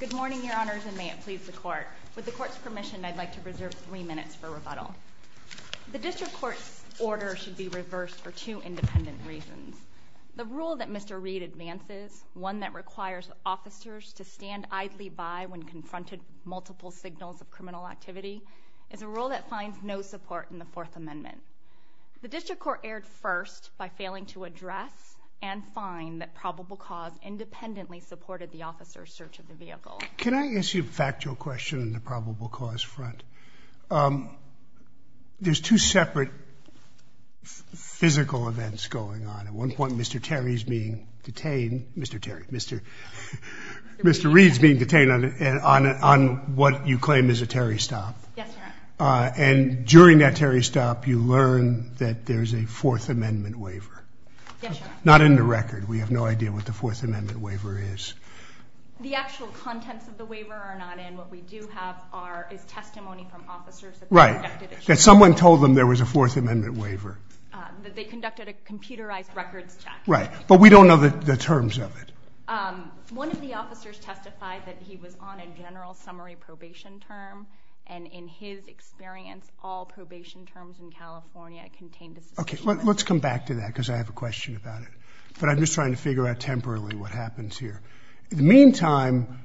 Good morning, your honors, and may it please the court. With the court's permission, I'd like to reserve three minutes for rebuttal. The district court's order should be reversed for two independent reasons. The rule that Mr. Reid advances, one that requires officers to stand idly by when confronted multiple signals of criminal activity, is a rule that finds no support in the Fourth Amendment. The district court erred first by failing to address and find that search of the vehicle. Can I ask you a factual question on the probable cause front? There's two separate physical events going on. At one point, Mr. Terry's being detained, Mr. Terry, Mr. Mr. Reid's being detained on what you claim is a Terry stop. And during that Terry stop, you learn that there's a Fourth Amendment waiver. Not in the record. We have no idea what the Fourth Amendment waiver is. The actual contents of the waiver are not in. What we do have is testimony from officers. Right, that someone told them there was a Fourth Amendment waiver. That they conducted a computerized records check. Right, but we don't know the terms of it. One of the officers testified that he was on a general summary probation term, and in his experience, all probation terms in California contained a suspension. Okay, let's come back to that because I have a here. In the meantime,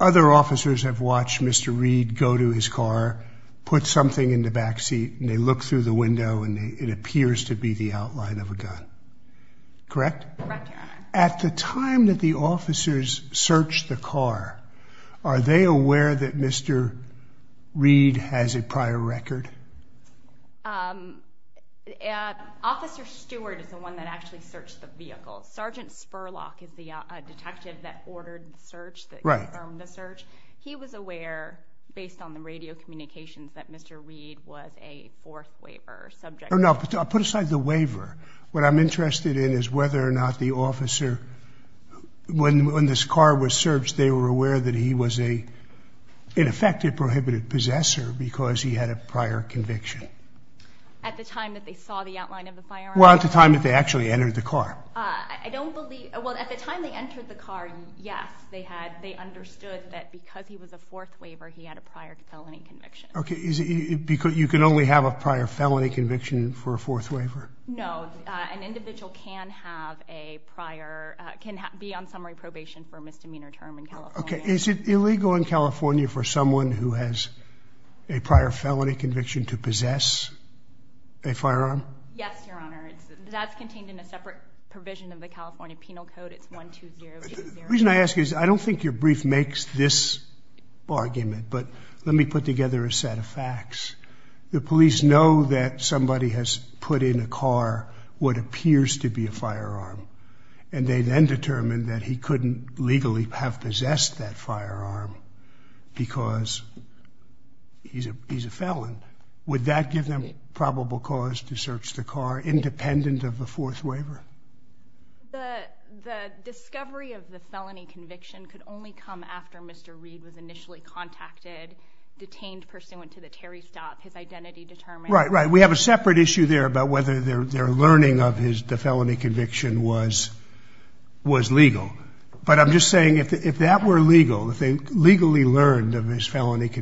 other officers have watched Mr. Reid go to his car, put something in the backseat, and they look through the window, and it appears to be the outline of a gun. Correct? At the time that the officers searched the car, are they aware that Mr. Reid has a prior record? Officer Stewart is the one that ordered the search. Right. He was aware, based on the radio communications, that Mr. Reid was a Fourth Waiver subject. No, put aside the waiver. What I'm interested in is whether or not the officer, when this car was searched, they were aware that he was a, in effect, a prohibited possessor because he had a prior conviction. At the time that they saw the outline of the firearm? Well, at the time that they actually entered the car. I don't believe, well at the time they entered the car, yes, they had, they understood that because he was a Fourth Waiver, he had a prior felony conviction. Okay, is it because you can only have a prior felony conviction for a Fourth Waiver? No, an individual can have a prior, can be on summary probation for a misdemeanor term in California. Okay, is it illegal in California for someone who has a prior felony conviction to possess a firearm? Yes, Your Honor, that's contained in a separate provision of the The reason I ask is, I don't think your brief makes this argument, but let me put together a set of facts. The police know that somebody has put in a car what appears to be a firearm, and they then determined that he couldn't legally have possessed that firearm because he's a felon. Would that give them probable cause to search the car independent of the Fourth Waiver? The discovery of the felony conviction could only come after Mr. Reed was initially contacted, detained pursuant to the Terry stop, his identity determined. Right, right, we have a separate issue there about whether their learning of his felony conviction was legal, but I'm just saying if that were legal, if they legally learned of his brief,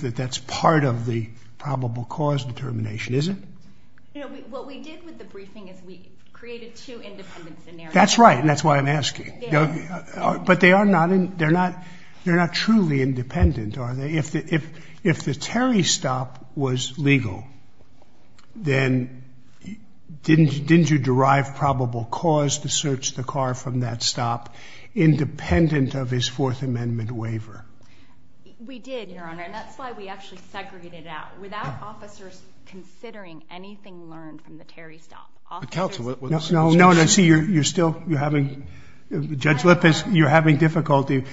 that that's part of the probable cause determination, is it? What we did with the briefing is we created two independent scenarios. That's right, and that's why I'm asking. But they are not, they're not truly independent, are they? If the Terry stop was legal, then didn't you derive probable cause to search the car from that stop independent of his Fourth Amendment waiver? We did, Your Honor, and that's why we actually segregated it out, without officers considering anything learned from the Terry stop. No, no, no, see you're still, you're having, Judge Lippis, you're having difficulty.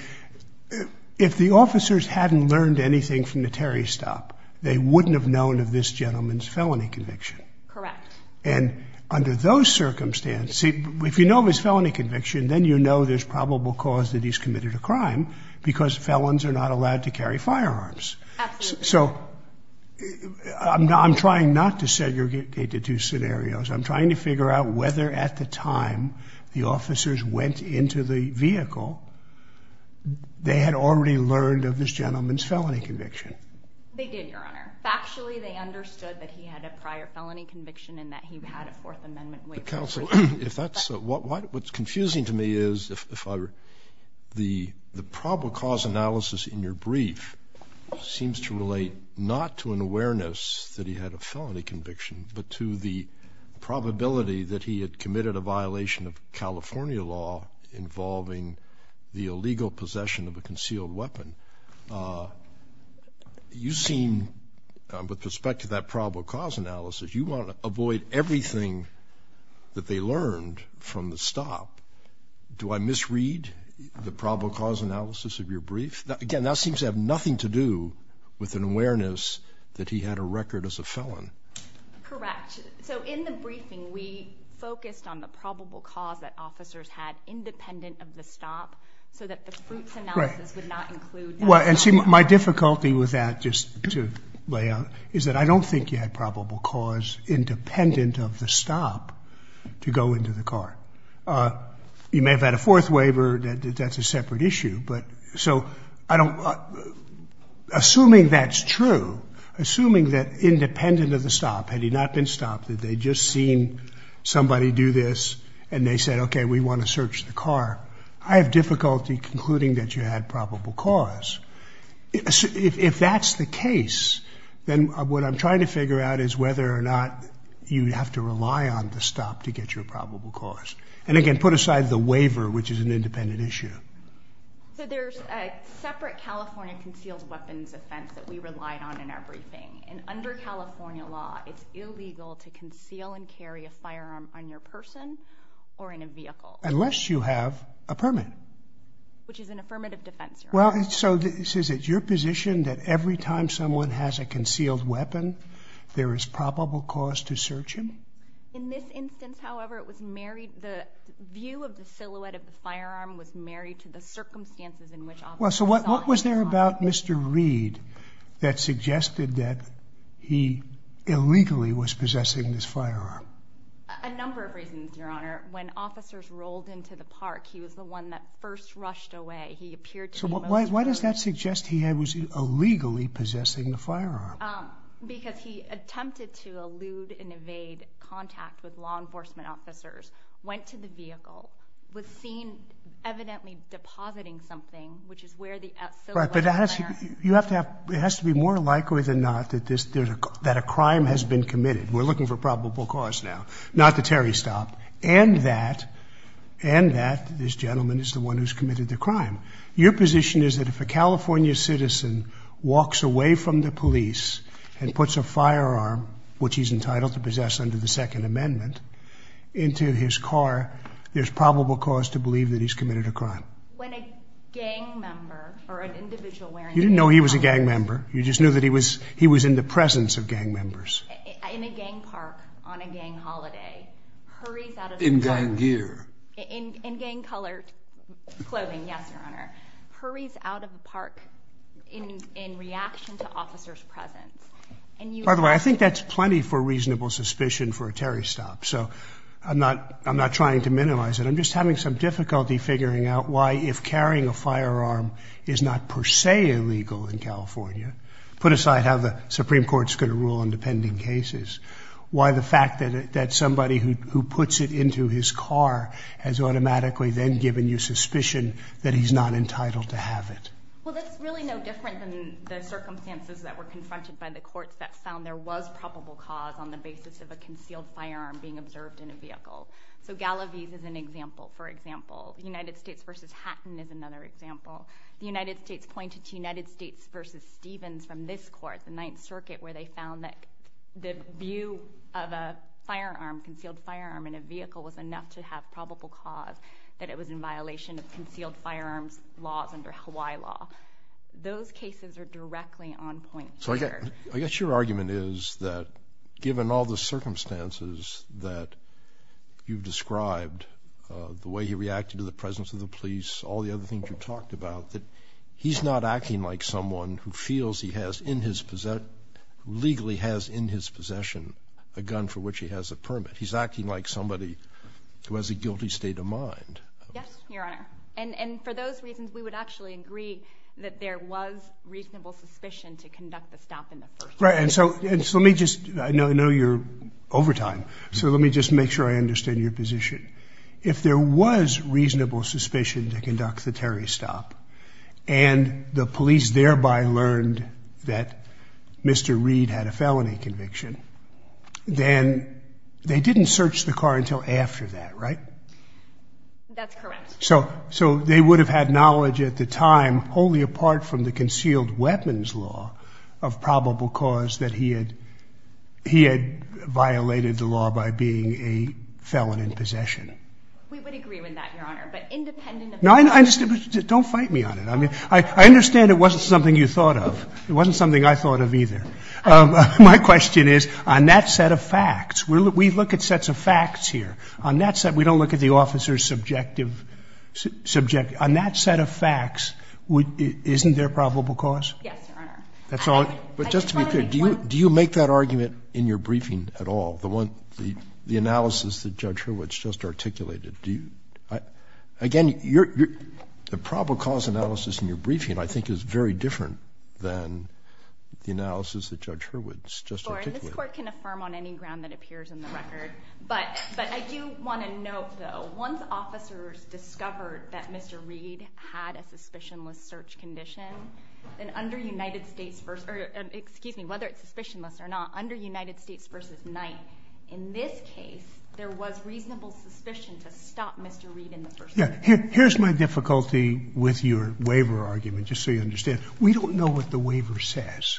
If the officers hadn't learned anything from the Terry stop, they wouldn't have known of this gentleman's felony conviction. Correct. And under those circumstances, if you know of his felony conviction, then you know there's probable cause that he's guilty because felons are not allowed to carry firearms. Absolutely. So I'm trying not to segregate the two scenarios. I'm trying to figure out whether at the time the officers went into the vehicle, they had already learned of this gentleman's felony conviction. They did, Your Honor. Factually, they understood that he had a prior felony conviction and that he had a Fourth Amendment waiver. Counselor, if that's, what's confusing to me is, if I were, the probable cause analysis in your brief seems to relate not to an awareness that he had a felony conviction, but to the probability that he had committed a violation of California law involving the illegal possession of a concealed weapon. You seem, with respect to that avoid everything that they learned from the stop, do I misread the probable cause analysis of your brief? Again, that seems to have nothing to do with an awareness that he had a record as a felon. Correct. So in the briefing, we focused on the probable cause that officers had independent of the stop so that the fruits analysis would not include that. Well, and see, my difficulty with that, just to lay out, is that I don't think you had probable cause independent of the stop to go into the car. You may have had a fourth waiver, that's a separate issue, but, so, I don't, assuming that's true, assuming that independent of the stop, had he not been stopped, that they'd just seen somebody do this and they said, okay, we want to search the car, I have difficulty concluding that you had probable cause. If that's the case, then what I'm trying to figure out is whether or not you have to rely on the stop to get your probable cause. And again, put aside the waiver, which is an independent issue. So there's a separate California concealed weapons offense that we relied on in our briefing, and under California law, it's illegal to conceal and carry a firearm on your person or in a vehicle. Unless you have a permit. Which is an affirmative defense. Well, so this is it, you're positioned that every time someone has a concealed weapon, there is probable cause to search him? In this instance, however, it was married, the view of the silhouette of the firearm was married to the circumstances in which officer saw him. Well, so what was there about Mr. Reed that suggested that he illegally was possessing this firearm? A number of reasons, Your Honor. When officers rolled into the park, he was the one that first rushed away. He appeared to Why does that suggest he was illegally possessing the firearm? Because he attempted to elude and evade contact with law enforcement officers, went to the vehicle, was seen evidently depositing something, which is where the silhouette of the firearm... Right, but you have to have, it has to be more likely than not that this, that a crime has been committed. We're looking for probable cause now, not the Terry stop. And that, and that this gentleman is the one who's The question is that if a California citizen walks away from the police and puts a firearm, which he's entitled to possess under the Second Amendment, into his car, there's probable cause to believe that he's committed a crime. When a gang member or an individual wearing... You didn't know he was a gang member. You just knew that he was, he was in the presence of gang members. In a gang park, on a gang holiday, hurries out... In gang gear. In gang colored clothing, yes, your honor. Hurries out of the park in, in reaction to officers' presence. And you... By the way, I think that's plenty for reasonable suspicion for a Terry stop. So I'm not, I'm not trying to minimize it. I'm just having some difficulty figuring out why, if carrying a firearm is not per se illegal in California, put aside how the Supreme Court is going to rule on depending cases, why the fact that, that somebody who puts it into his car has automatically then given you suspicion that he's not entitled to have it. Well, that's really no different than the circumstances that were confronted by the courts that found there was probable cause on the basis of a concealed firearm being observed in a vehicle. So Galavis is an example, for example. United States versus Hatton is another example. The United States pointed to United States versus Stevens from this court, the Ninth Circuit, where they found that the view of a firearm, concealed firearm in a vehicle was enough to have probable cause that it was in violation of concealed firearms laws under Hawaii law. Those cases are directly on point here. So I guess your argument is that, given all the circumstances that you've described, the way he reacted to the presence of the police, all the other things you've talked about, that he's not acting like someone who feels he has in his possess... Legally has in his possession a gun for which he has a permit. He's acting like somebody who has a guilty state of mind. Yes, Your Honor. And for those reasons, we would actually agree that there was reasonable suspicion to conduct the stop in the first place. Right. And so let me just... I know you're overtime, so let me just make sure I understand your position. If there was reasonable suspicion to conduct the Terry stop, and the police thereby learned that Mr. Reed had a felony conviction, then they didn't search the car until after that, right? That's correct. So they would have had knowledge at the time, wholly apart from the concealed weapons law of probable cause that he had violated the law by being a felon in possession. We would agree with that, Your Honor, but independent of... Don't fight me on it. I understand it wasn't something you thought of. It wasn't something I thought of either. My question is, on that set of facts, we look at sets of facts here. On that set, we don't look at the officer's subjective... On that set of facts, isn't there probable cause? Yes, Your Honor. That's all... But just to be clear, do you make that argument in your briefing at all? The analysis that Judge Hurwitz just articulated, do you? Again, the probable cause analysis in your briefing, I think, is very different than the analysis that Judge Hurwitz just articulated. And this court can affirm on any ground that appears in the record. But I do wanna note, though, once officers discovered that Mr. Reed had a suspicionless search condition, then under United States... Excuse me, whether it's suspicionless or not, under United States v. Knight, in this case, there was reasonable suspicion to stop Mr. Reed in the first place. Here's my difficulty with your waiver argument, just so you understand. We don't know what the waiver says.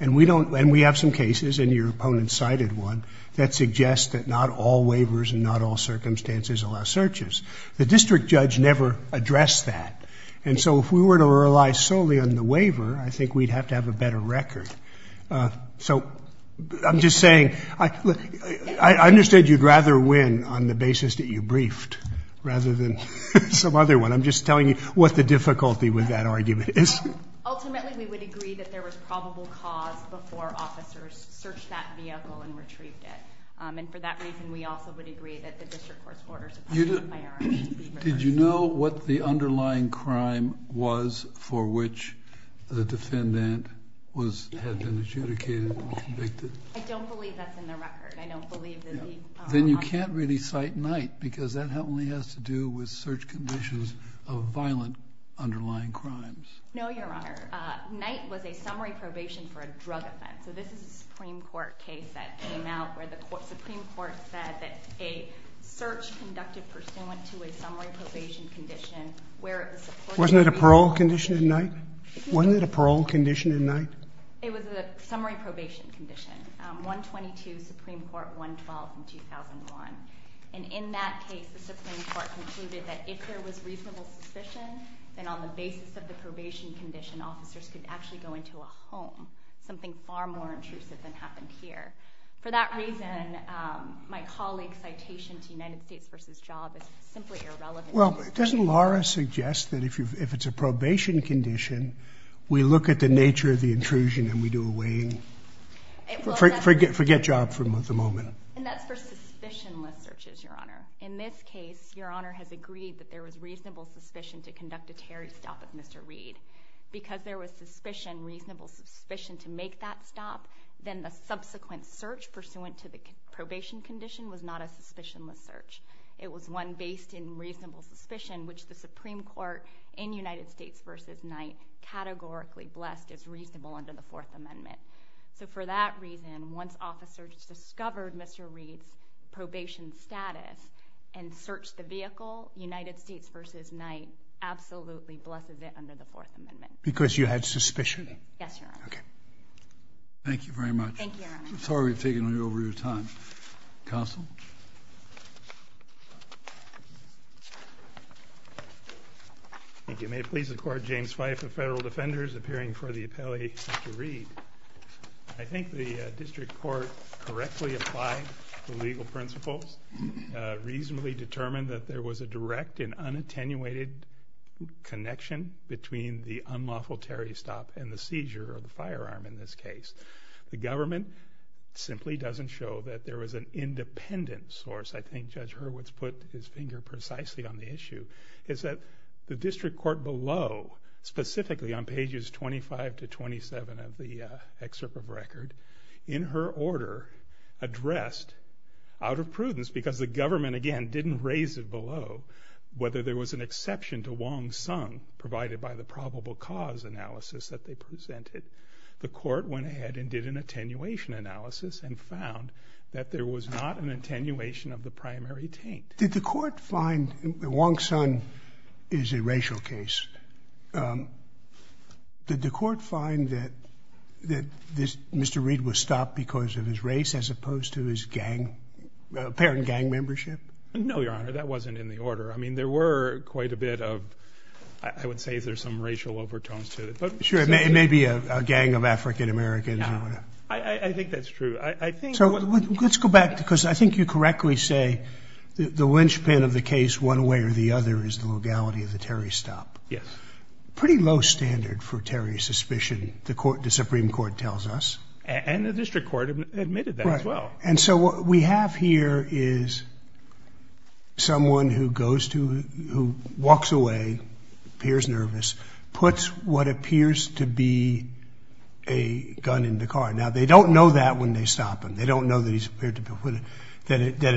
And we have some cases, and your opponent cited one, that suggest that not all waivers and not all circumstances allow searches. The district judge never addressed that. And so if we were to rely solely on the waiver, I think we'd have to have a better record. So I'm just saying... I understand you'd rather win on the basis that you briefed rather than some other one. I'm just telling you what the difficulty with that argument is. Ultimately, we would agree that there was probable cause before officers searched that vehicle and retrieved it. And for that reason, we also would agree that the district court's orders of punishment by RIT be reversed. Did you know what the underlying crime was for which the defendant had been adjudicated and convicted? I don't believe that's in the record. I don't believe that the... Then you can't really cite Knight, because that only has to do with search conditions of violent underlying crimes. No, Your Honor. Knight was a summary probation for a drug offense. So this is a Supreme Court case that came out where the Supreme Court said that a search conducted pursuant to a summary probation condition where it was... Wasn't it a parole condition in Knight? Wasn't it a parole condition in Knight? It was a summary probation condition, 122 Supreme Court 112 in 2001. And in that case, the Supreme Court concluded that if there was reasonable suspicion, then on the basis of the probation condition, officers could actually go into a home, something far more intrusive than happened here. For that reason, my colleague's citation to United States versus job is simply irrelevant. Well, doesn't Laura suggest that if it's a probation condition, we look at the nature of the intrusion and we do a weighing? Forget job for the moment. And that's for suspicionless searches, Your Honor. In this case, Your Honor has agreed that there was reasonable suspicion to conduct a Terry stop at Mr. Reed. Because there was suspicion, reasonable suspicion to make that stop, then the subsequent search pursuant to the probation condition was not a suspicionless search. It was one based in reasonable suspicion, which the Supreme Court in United States versus Knight categorically blessed as reasonable under the Fourth Amendment. So for that reason, once officers discovered Mr. Reed's probation status and searched the vehicle, United States versus Knight absolutely blessed it under the Fourth Amendment. Because you had suspicion? Yes, Your Honor. Okay. Thank you very much. Thank you, Your Honor. I'm sorry we've taken you over your time. Counsel? Thank you. May it please the court, James Fife of Federal Defenders, appearing for the appellee, Mr. Reed. I think the district court correctly applied the legal principles, reasonably determined that there was a direct and unattenuated connection between the unlawful Terry stop and the seizure of the firearm in this case. The government simply doesn't show that there was an independent source. I think Judge Hurwitz put his finger precisely on the issue, is that the district court below, specifically on pages 25 to 27 of the excerpt of record, in her order, addressed out of prudence because the government, again, didn't raise it below, whether there was an exception to Wong Sung provided by the probable cause analysis that they presented. The court went ahead and did an attenuation analysis and found that there was not an attenuation of the primary taint. Did the court find Wong Sung is a racial case? Did the court find that Mr. Reed was stopped because of his race as opposed to his gang, apparent gang membership? No, Your Honor, that wasn't in the order. I mean, there were quite a bit of, I would say there's some racial overtones to it. Sure, it may be a gang of African Americans. I think that's true. So let's go back, because I think you correctly say the linchpin of the case, one way or the other, is the legality of the Terry stop. Yes. Pretty low standard for Terry's suspicion, the Supreme Court tells us. And the district court admitted that as well. Right. And so what we have here is someone who walks away, appears nervous, puts what appears to be a gun in the car. Now, they don't know that when they stop him. They don't know that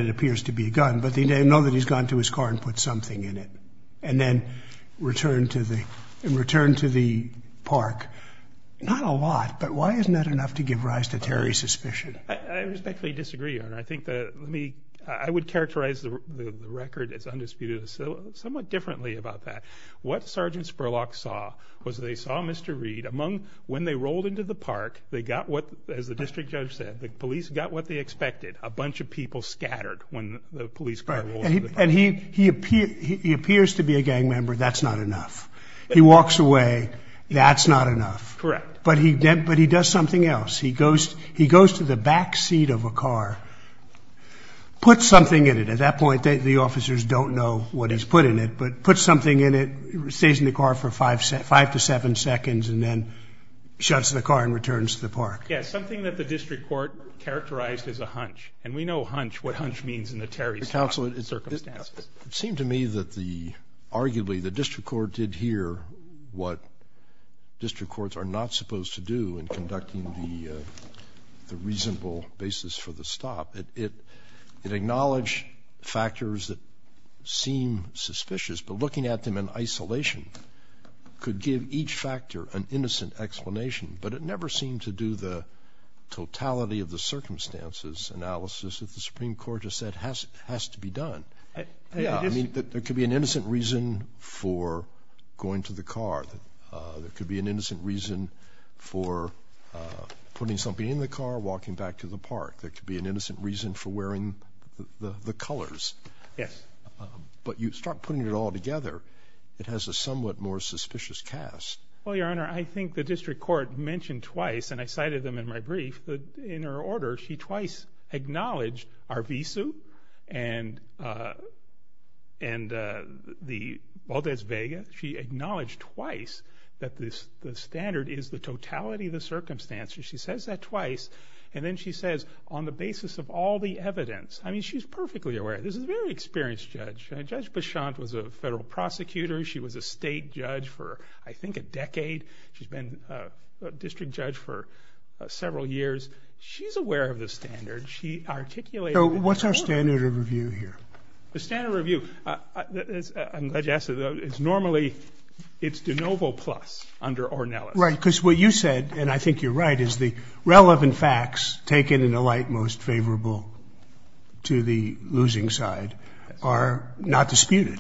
it appears to be a gun, but they know that he's gone to his car and put something in it and then returned to the park. Not a lot, but why isn't that enough to give rise to Terry's suspicion? I respectfully disagree, Your Honor. I think that, let me, I would characterize the record as undisputed somewhat differently about that. What Sergeant Spurlock saw was they saw Mr. Reed among, when they rolled into the park, they got what, as the district judge said, the police got what they expected, a bunch of people scattered when the police car rolls into the park. And he appears to be a gang member, that's not enough. He walks away, that's not enough. Correct. But he does something else. He goes to the back seat of a car, puts something in it. At that point, the officers don't know what he's put in it, but puts something in it, stays in the car for five to seven seconds, and then shuts the car and returns to the park. Yeah, something that the district court characterized as a hunch. And we know hunch, what hunch means in the Terry's circumstances. Counsel, it seemed to me that the, arguably, the district court did hear what district courts are not supposed to do in conducting the reasonable basis for the stop. It acknowledged factors that seem suspicious, but looking at them in isolation could give each factor an innocent explanation, but it never seemed to do the totality of the circumstances analysis that the Supreme Court has said has to be done. There could be an innocent reason for going to the car. There could be an innocent reason for putting something in the car, walking back to the park. There could be an innocent reason for wearing the colors. Yes. But you start putting it all together, it has a somewhat more suspicious cast. Well, Your Honor, I think the district court mentioned twice, and I cited them in my brief, that in her order, she twice acknowledged Arvizu and the Valdez Vega. She acknowledged twice that the standard is the totality of the circumstances. She says that twice, and then she says, on the basis of all the evidence. I mean, she's perfectly aware. This is a very experienced judge. Judge Bichont was a federal prosecutor. She was a state judge for, I think, a decade. She's been a district judge for several years. She's aware of the standard. She articulated... So what's our standard of review here? The standard review, I'm glad you asked that. It's normally, it's de novo plus under Ornelas. Right, because what you said, and I think you're right, is the relevant facts taken in a light most favorable to the losing side are not disputed.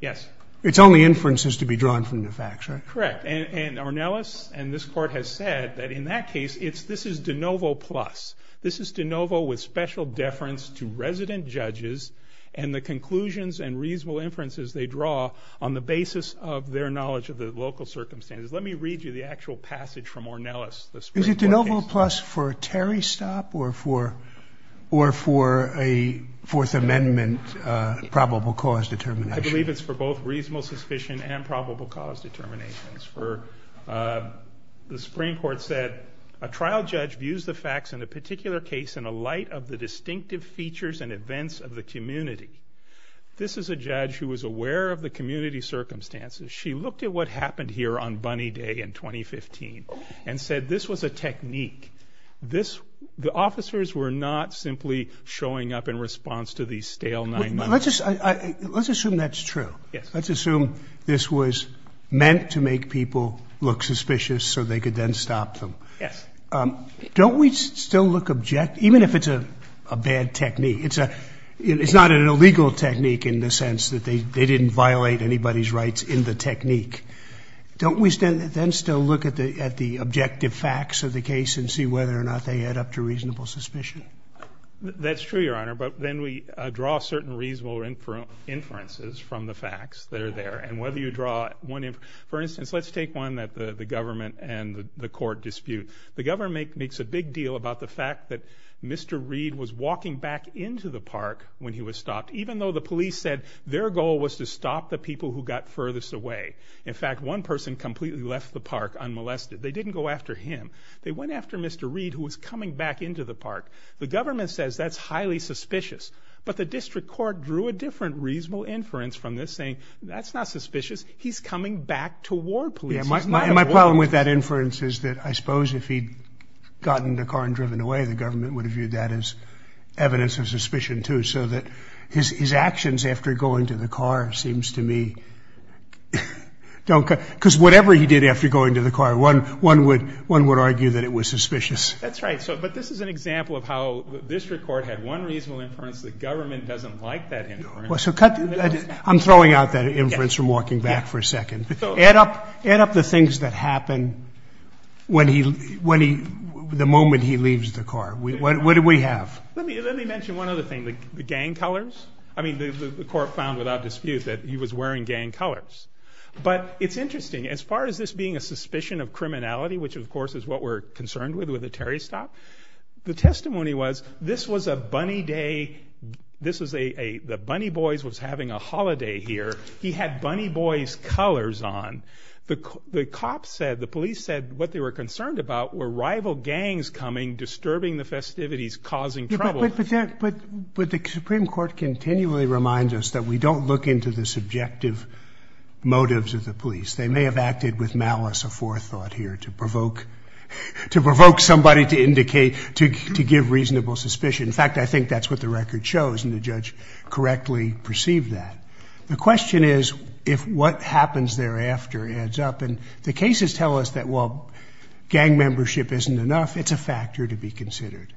Yes. It's only inferences to be drawn from the facts, right? Correct. And Ornelas and this court has said that in that case, this is de novo plus. This is de novo with special deference to resident judges and the conclusions and reasonable inferences they draw on the basis of their knowledge of the local circumstances. Let me read you the actual passage from Ornelas. Is it de novo plus for a Terry stop or for a Fourth Amendment probable cause determination? I believe it's for both reasonable suspicion and probable cause determinations. For... The Supreme Court said, a trial judge views the facts in a particular case in a light of the distinctive features and events of the community. This is a judge who was aware of the community circumstances. She looked at what happened here on Bunny Day in 2015 and said this was a technique. This... The officers were not simply showing up in response to these stale nine months. Let's assume that's true. Yes. Let's assume this was meant to make people look suspicious so they could then stop them. Yes. Don't we still look... Even if it's a bad technique, it's not an illegal technique in the sense that they didn't violate anybody's rights in the technique. Don't we then still look at the objective facts of the case and see whether or not they add up to reasonable suspicion? That's true, Your Honor, but then we draw certain reasonable inferences from the facts that are there. And whether you draw one... For instance, let's take one that the government and the court dispute. The government makes a big deal about the fact that Mr. Reed was walking back into the park when he was stopped, even though the police said their goal was to stop the people who got furthest away. In fact, one person completely left the park unmolested. They didn't go after him. They went after Mr. Reed, who was coming back into the park. The government says that's highly suspicious, but the district court drew a different reasonable inference from this saying, that's not suspicious, he's coming back to ward police. Yeah, my problem with that inference is that I suppose if he'd gotten in the car and driven away, the government would have viewed that as evidence of suspicion too, so that his actions after going to the car seems to me... Because whatever he did after going to the car, one would argue that it was suspicious. That's right. But this is an example of how the district court had one reasonable inference, the government doesn't like that inference. So cut... I'm throwing out that inference from walking back for a second. Add up the things that happen the moment he leaves the car. What do we have? Let me mention one other thing, the gang colors. The court found without dispute that he was a gang member. Interesting, as far as this being a suspicion of criminality, which of course is what we're concerned with, with the Terry stop, the testimony was, this was a bunny day, the Bunny Boys was having a holiday here, he had Bunny Boys colors on. The cops said, the police said, what they were concerned about were rival gangs coming, disturbing the festivities, causing trouble. But the Supreme Court continually reminds us that we don't look into the subjective motives of the police. They may have acted with malice or forethought here to provoke somebody to indicate, to give reasonable suspicion. In fact, I think that's what the record shows, and the judge correctly perceived that. The question is, if what happens thereafter adds up, and the cases tell us that while gang membership isn't enough, it's a factor to be considered.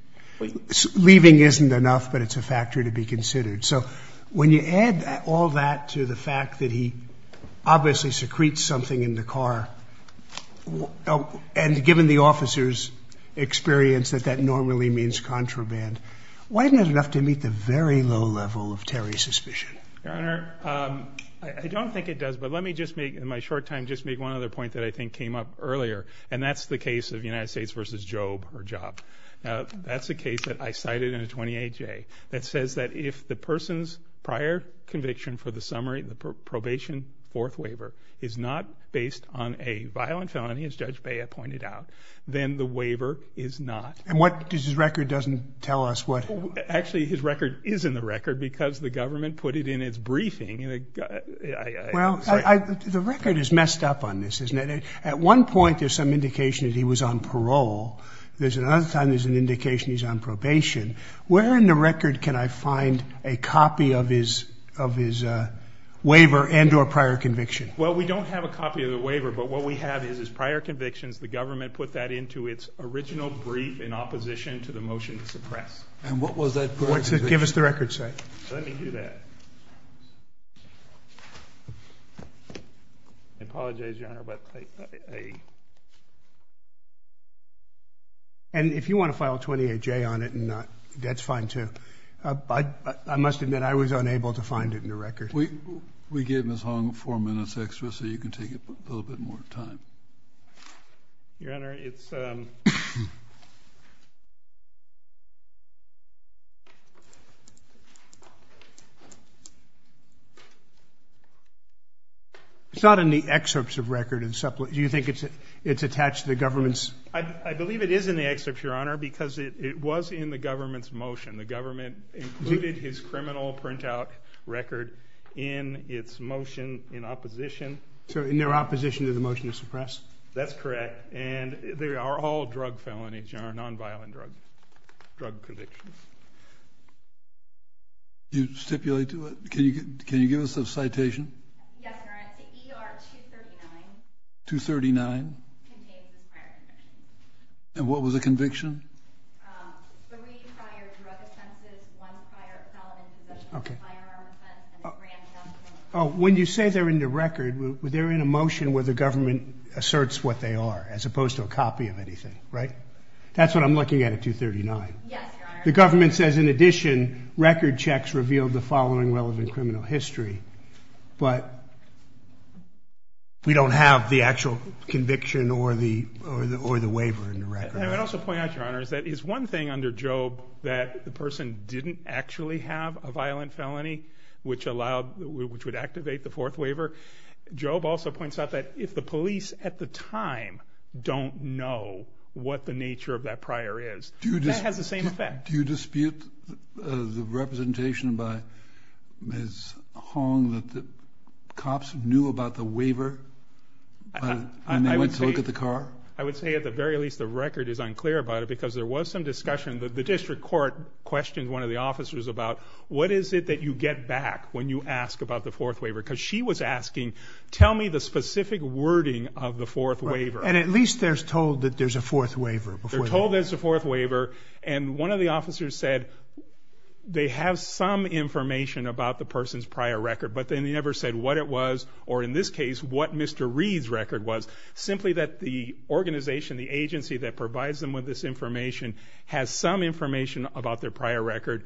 Leaving isn't enough, but it's a factor to be considered. So when you add all that to the fact that he obviously secretes something in the car, and given the officer's experience that that normally means contraband, why isn't it enough to meet the very low level of Terry's suspicion? Your Honor, I don't think it does, but let me just make, in my short time, just make one other point that I think came up earlier, and that's the case of United States versus Job, that's a case that I cited in a 28-J, that says that if the person's prior conviction for the summary, the probation fourth waiver, is not based on a violent felony, as Judge Bea pointed out, then the waiver is not. And what does his record doesn't tell us? What... Actually, his record is in the record because the government put it in its briefing, and I... Well, the record is messed up on this, isn't it? At one point, there's some indication that he was on parole. There's another time there's an indication he's on probation. Where in the copy of his waiver and or prior conviction? Well, we don't have a copy of the waiver, but what we have is his prior convictions, the government put that into its original brief in opposition to the motion to suppress. And what was that prior conviction? Give us the record, sir. Let me do that. I apologize, Your Honor, but I... And if you wanna file a 28-J on it, that's fine, too. I must admit, I was unable to find it in the record. We gave Ms. Hong four minutes extra, so you can take a little bit more time. Your Honor, it's... It's not in the excerpts of record and... Do you think it's attached to the government's... I believe it is in the excerpt, Your Honor, because it was in the government's motion. The government included his criminal printout record in its motion in opposition... So in their opposition to the motion to suppress? That's correct. And they are all drug felonies. They are nonviolent drug convictions. You stipulate to it? Can you give us a citation? Yes, Your Honor. The ER 239... 239? Contains the prior conviction. And what was the conviction? Three prior drug offenses, one prior felon in possession of a firearm offense, and a grand counts... When you say they're in the record, they're in a motion where the government asserts what they are, as opposed to a copy of anything, right? That's what I'm looking at at 239. Yes, Your Honor. The government says, in addition, record checks revealed the following relevant criminal history, but we don't have the actual conviction or the waiver in the record. And I'd also point out, Your Honor, is that it's one thing under Job that the person didn't actually have a violent felony, which would activate the fourth waiver. Job also points out that if the police at the time don't know what the nature of that prior is, that has the same effect. Do you dispute the representation by Ms. Hong that the cops knew about the waiver, and they went to look at the car? I would say, at the very least, the record is unclear about it, because there was some discussion. The district court questioned one of the officers about, what is it that you get back when you ask about the fourth waiver? Because she was asking, tell me the specific wording of the fourth waiver. And at least they're told that there's a fourth waiver before... They're told there's a fourth waiver, and one of the officers said they have some information about the person's prior record, but then they never said what it was, or in this case, what Mr. Reed's record was. Simply that the organization, the agency that provides them with this information, has some information about their prior record,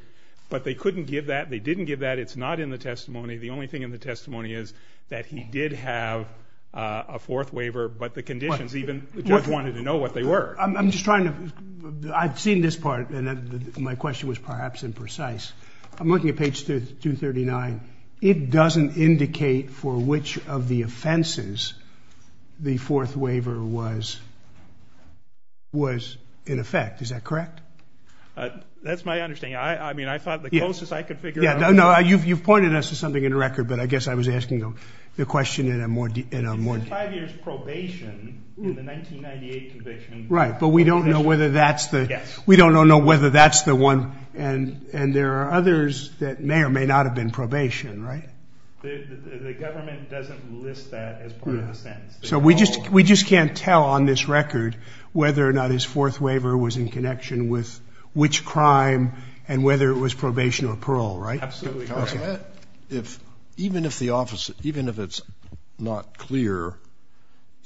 but they couldn't give that, they didn't give that, it's not in the testimony. The only thing in the testimony is that he did have a fourth waiver, but the conditions, even the judge wanted to know what they were. I'm just trying to... I've seen this part, and my question was perhaps imprecise. I'm looking at page 239, it doesn't indicate for which of the offenses the fourth waiver was in effect, is that correct? That's my understanding. I thought the closest I could figure out... Yeah, no, you've pointed us to something in the record, but I guess I was asking the question in a more... Five years probation in the 1998 conviction... Right, but we don't know whether that's the... Yes. We don't know whether that's the one, and there are others that may or may not have been probation, right? The government doesn't list that as part of the sentence. So we just can't tell on this record whether or not his fourth waiver was in connection with which crime and whether it was probation or parole, right? Absolutely not. Even if the officer, even if it's not clear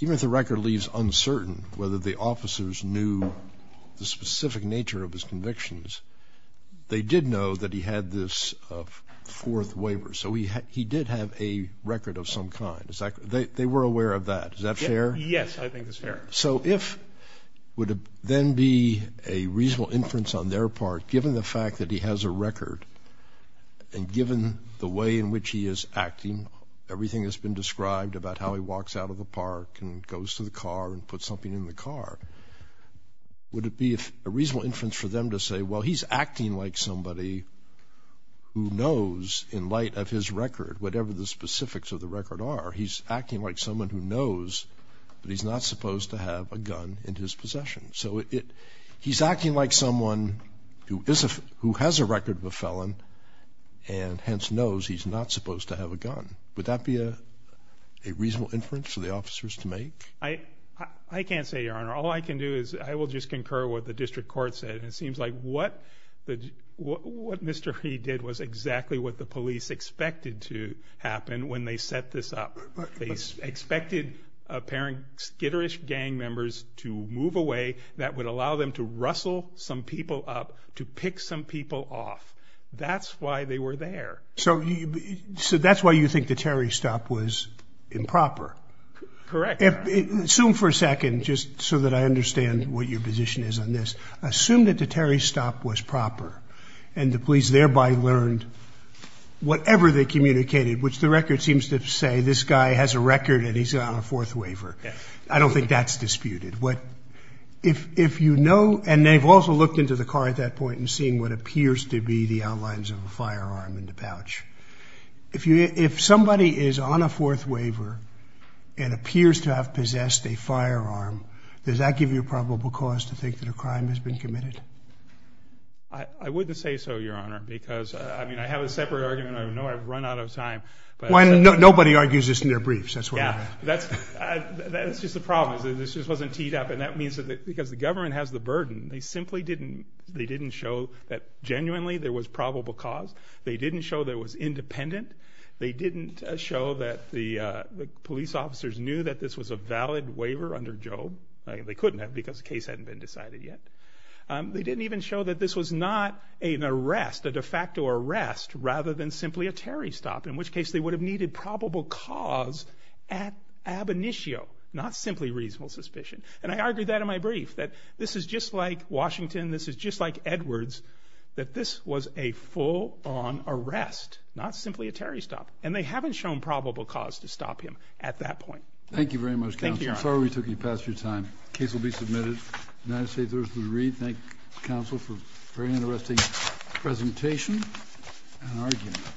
even if the record leaves uncertain whether the officers knew the specific nature of his convictions, they did know that he had this fourth waiver. So he did have a record of some kind, is that... They were aware of that, is that fair? Yes, I think it's fair. So if... Would then be a reasonable inference on their part, given the fact that he has a record and given the way in which he is acting, everything that's been described about how he walks out of a park and goes to the car and put something in the car, would it be a reasonable inference for them to say, well, he's acting like somebody who knows in light of his record, whatever the specifics of the record are, he's acting like someone who knows, but he's not supposed to have a gun in his possession. So he's acting like someone who has a record of a felon and hence knows he's not supposed to have a gun. Would that be a reasonable inference for the officers to make? I can't say, Your Honor. All I can do is I will just concur what the district court said. It seems like what Mr. Reed did was exactly what the police expected to happen when they set this up. They expected skitterish gang members to move away that would allow them to rustle some people off. That's why they were there. So that's why you think the Terry stop was improper? Correct. Assume for a second, just so that I understand what your position is on this. Assume that the Terry stop was proper and the police thereby learned whatever they communicated, which the record seems to say, this guy has a record and he's on a fourth waiver. I don't think that's disputed. If you know, and they've also looked into the car at that point and seeing what appears to be the outlines of a firearm in the pouch. If somebody is on a fourth waiver and appears to have possessed a firearm, does that give you a probable cause to think that a crime has been committed? I wouldn't say so, Your Honor, because I mean, I have a separate argument. I know I've run out of time. Nobody argues this in their briefs, that's what I mean. Yeah, that's just the problem. This just wasn't teed up. And that means that because the they didn't show that genuinely there was probable cause. They didn't show there was independent. They didn't show that the police officers knew that this was a valid waiver under Job. They couldn't have because the case hadn't been decided yet. They didn't even show that this was not an arrest, a de facto arrest, rather than simply a Terry stop, in which case they would have needed probable cause at ab initio, not simply reasonable suspicion. And I argued that in my brief, that this is just like Washington, this is just like Edwards, that this was a full on arrest, not simply a Terry stop. And they haven't shown probable cause to stop him at that point. Thank you very much. Thank you, Your Honor. I'm sorry we took you past your time. The case will be submitted. United States Article of the Read. Thank you, counsel, for a very interesting presentation and argument.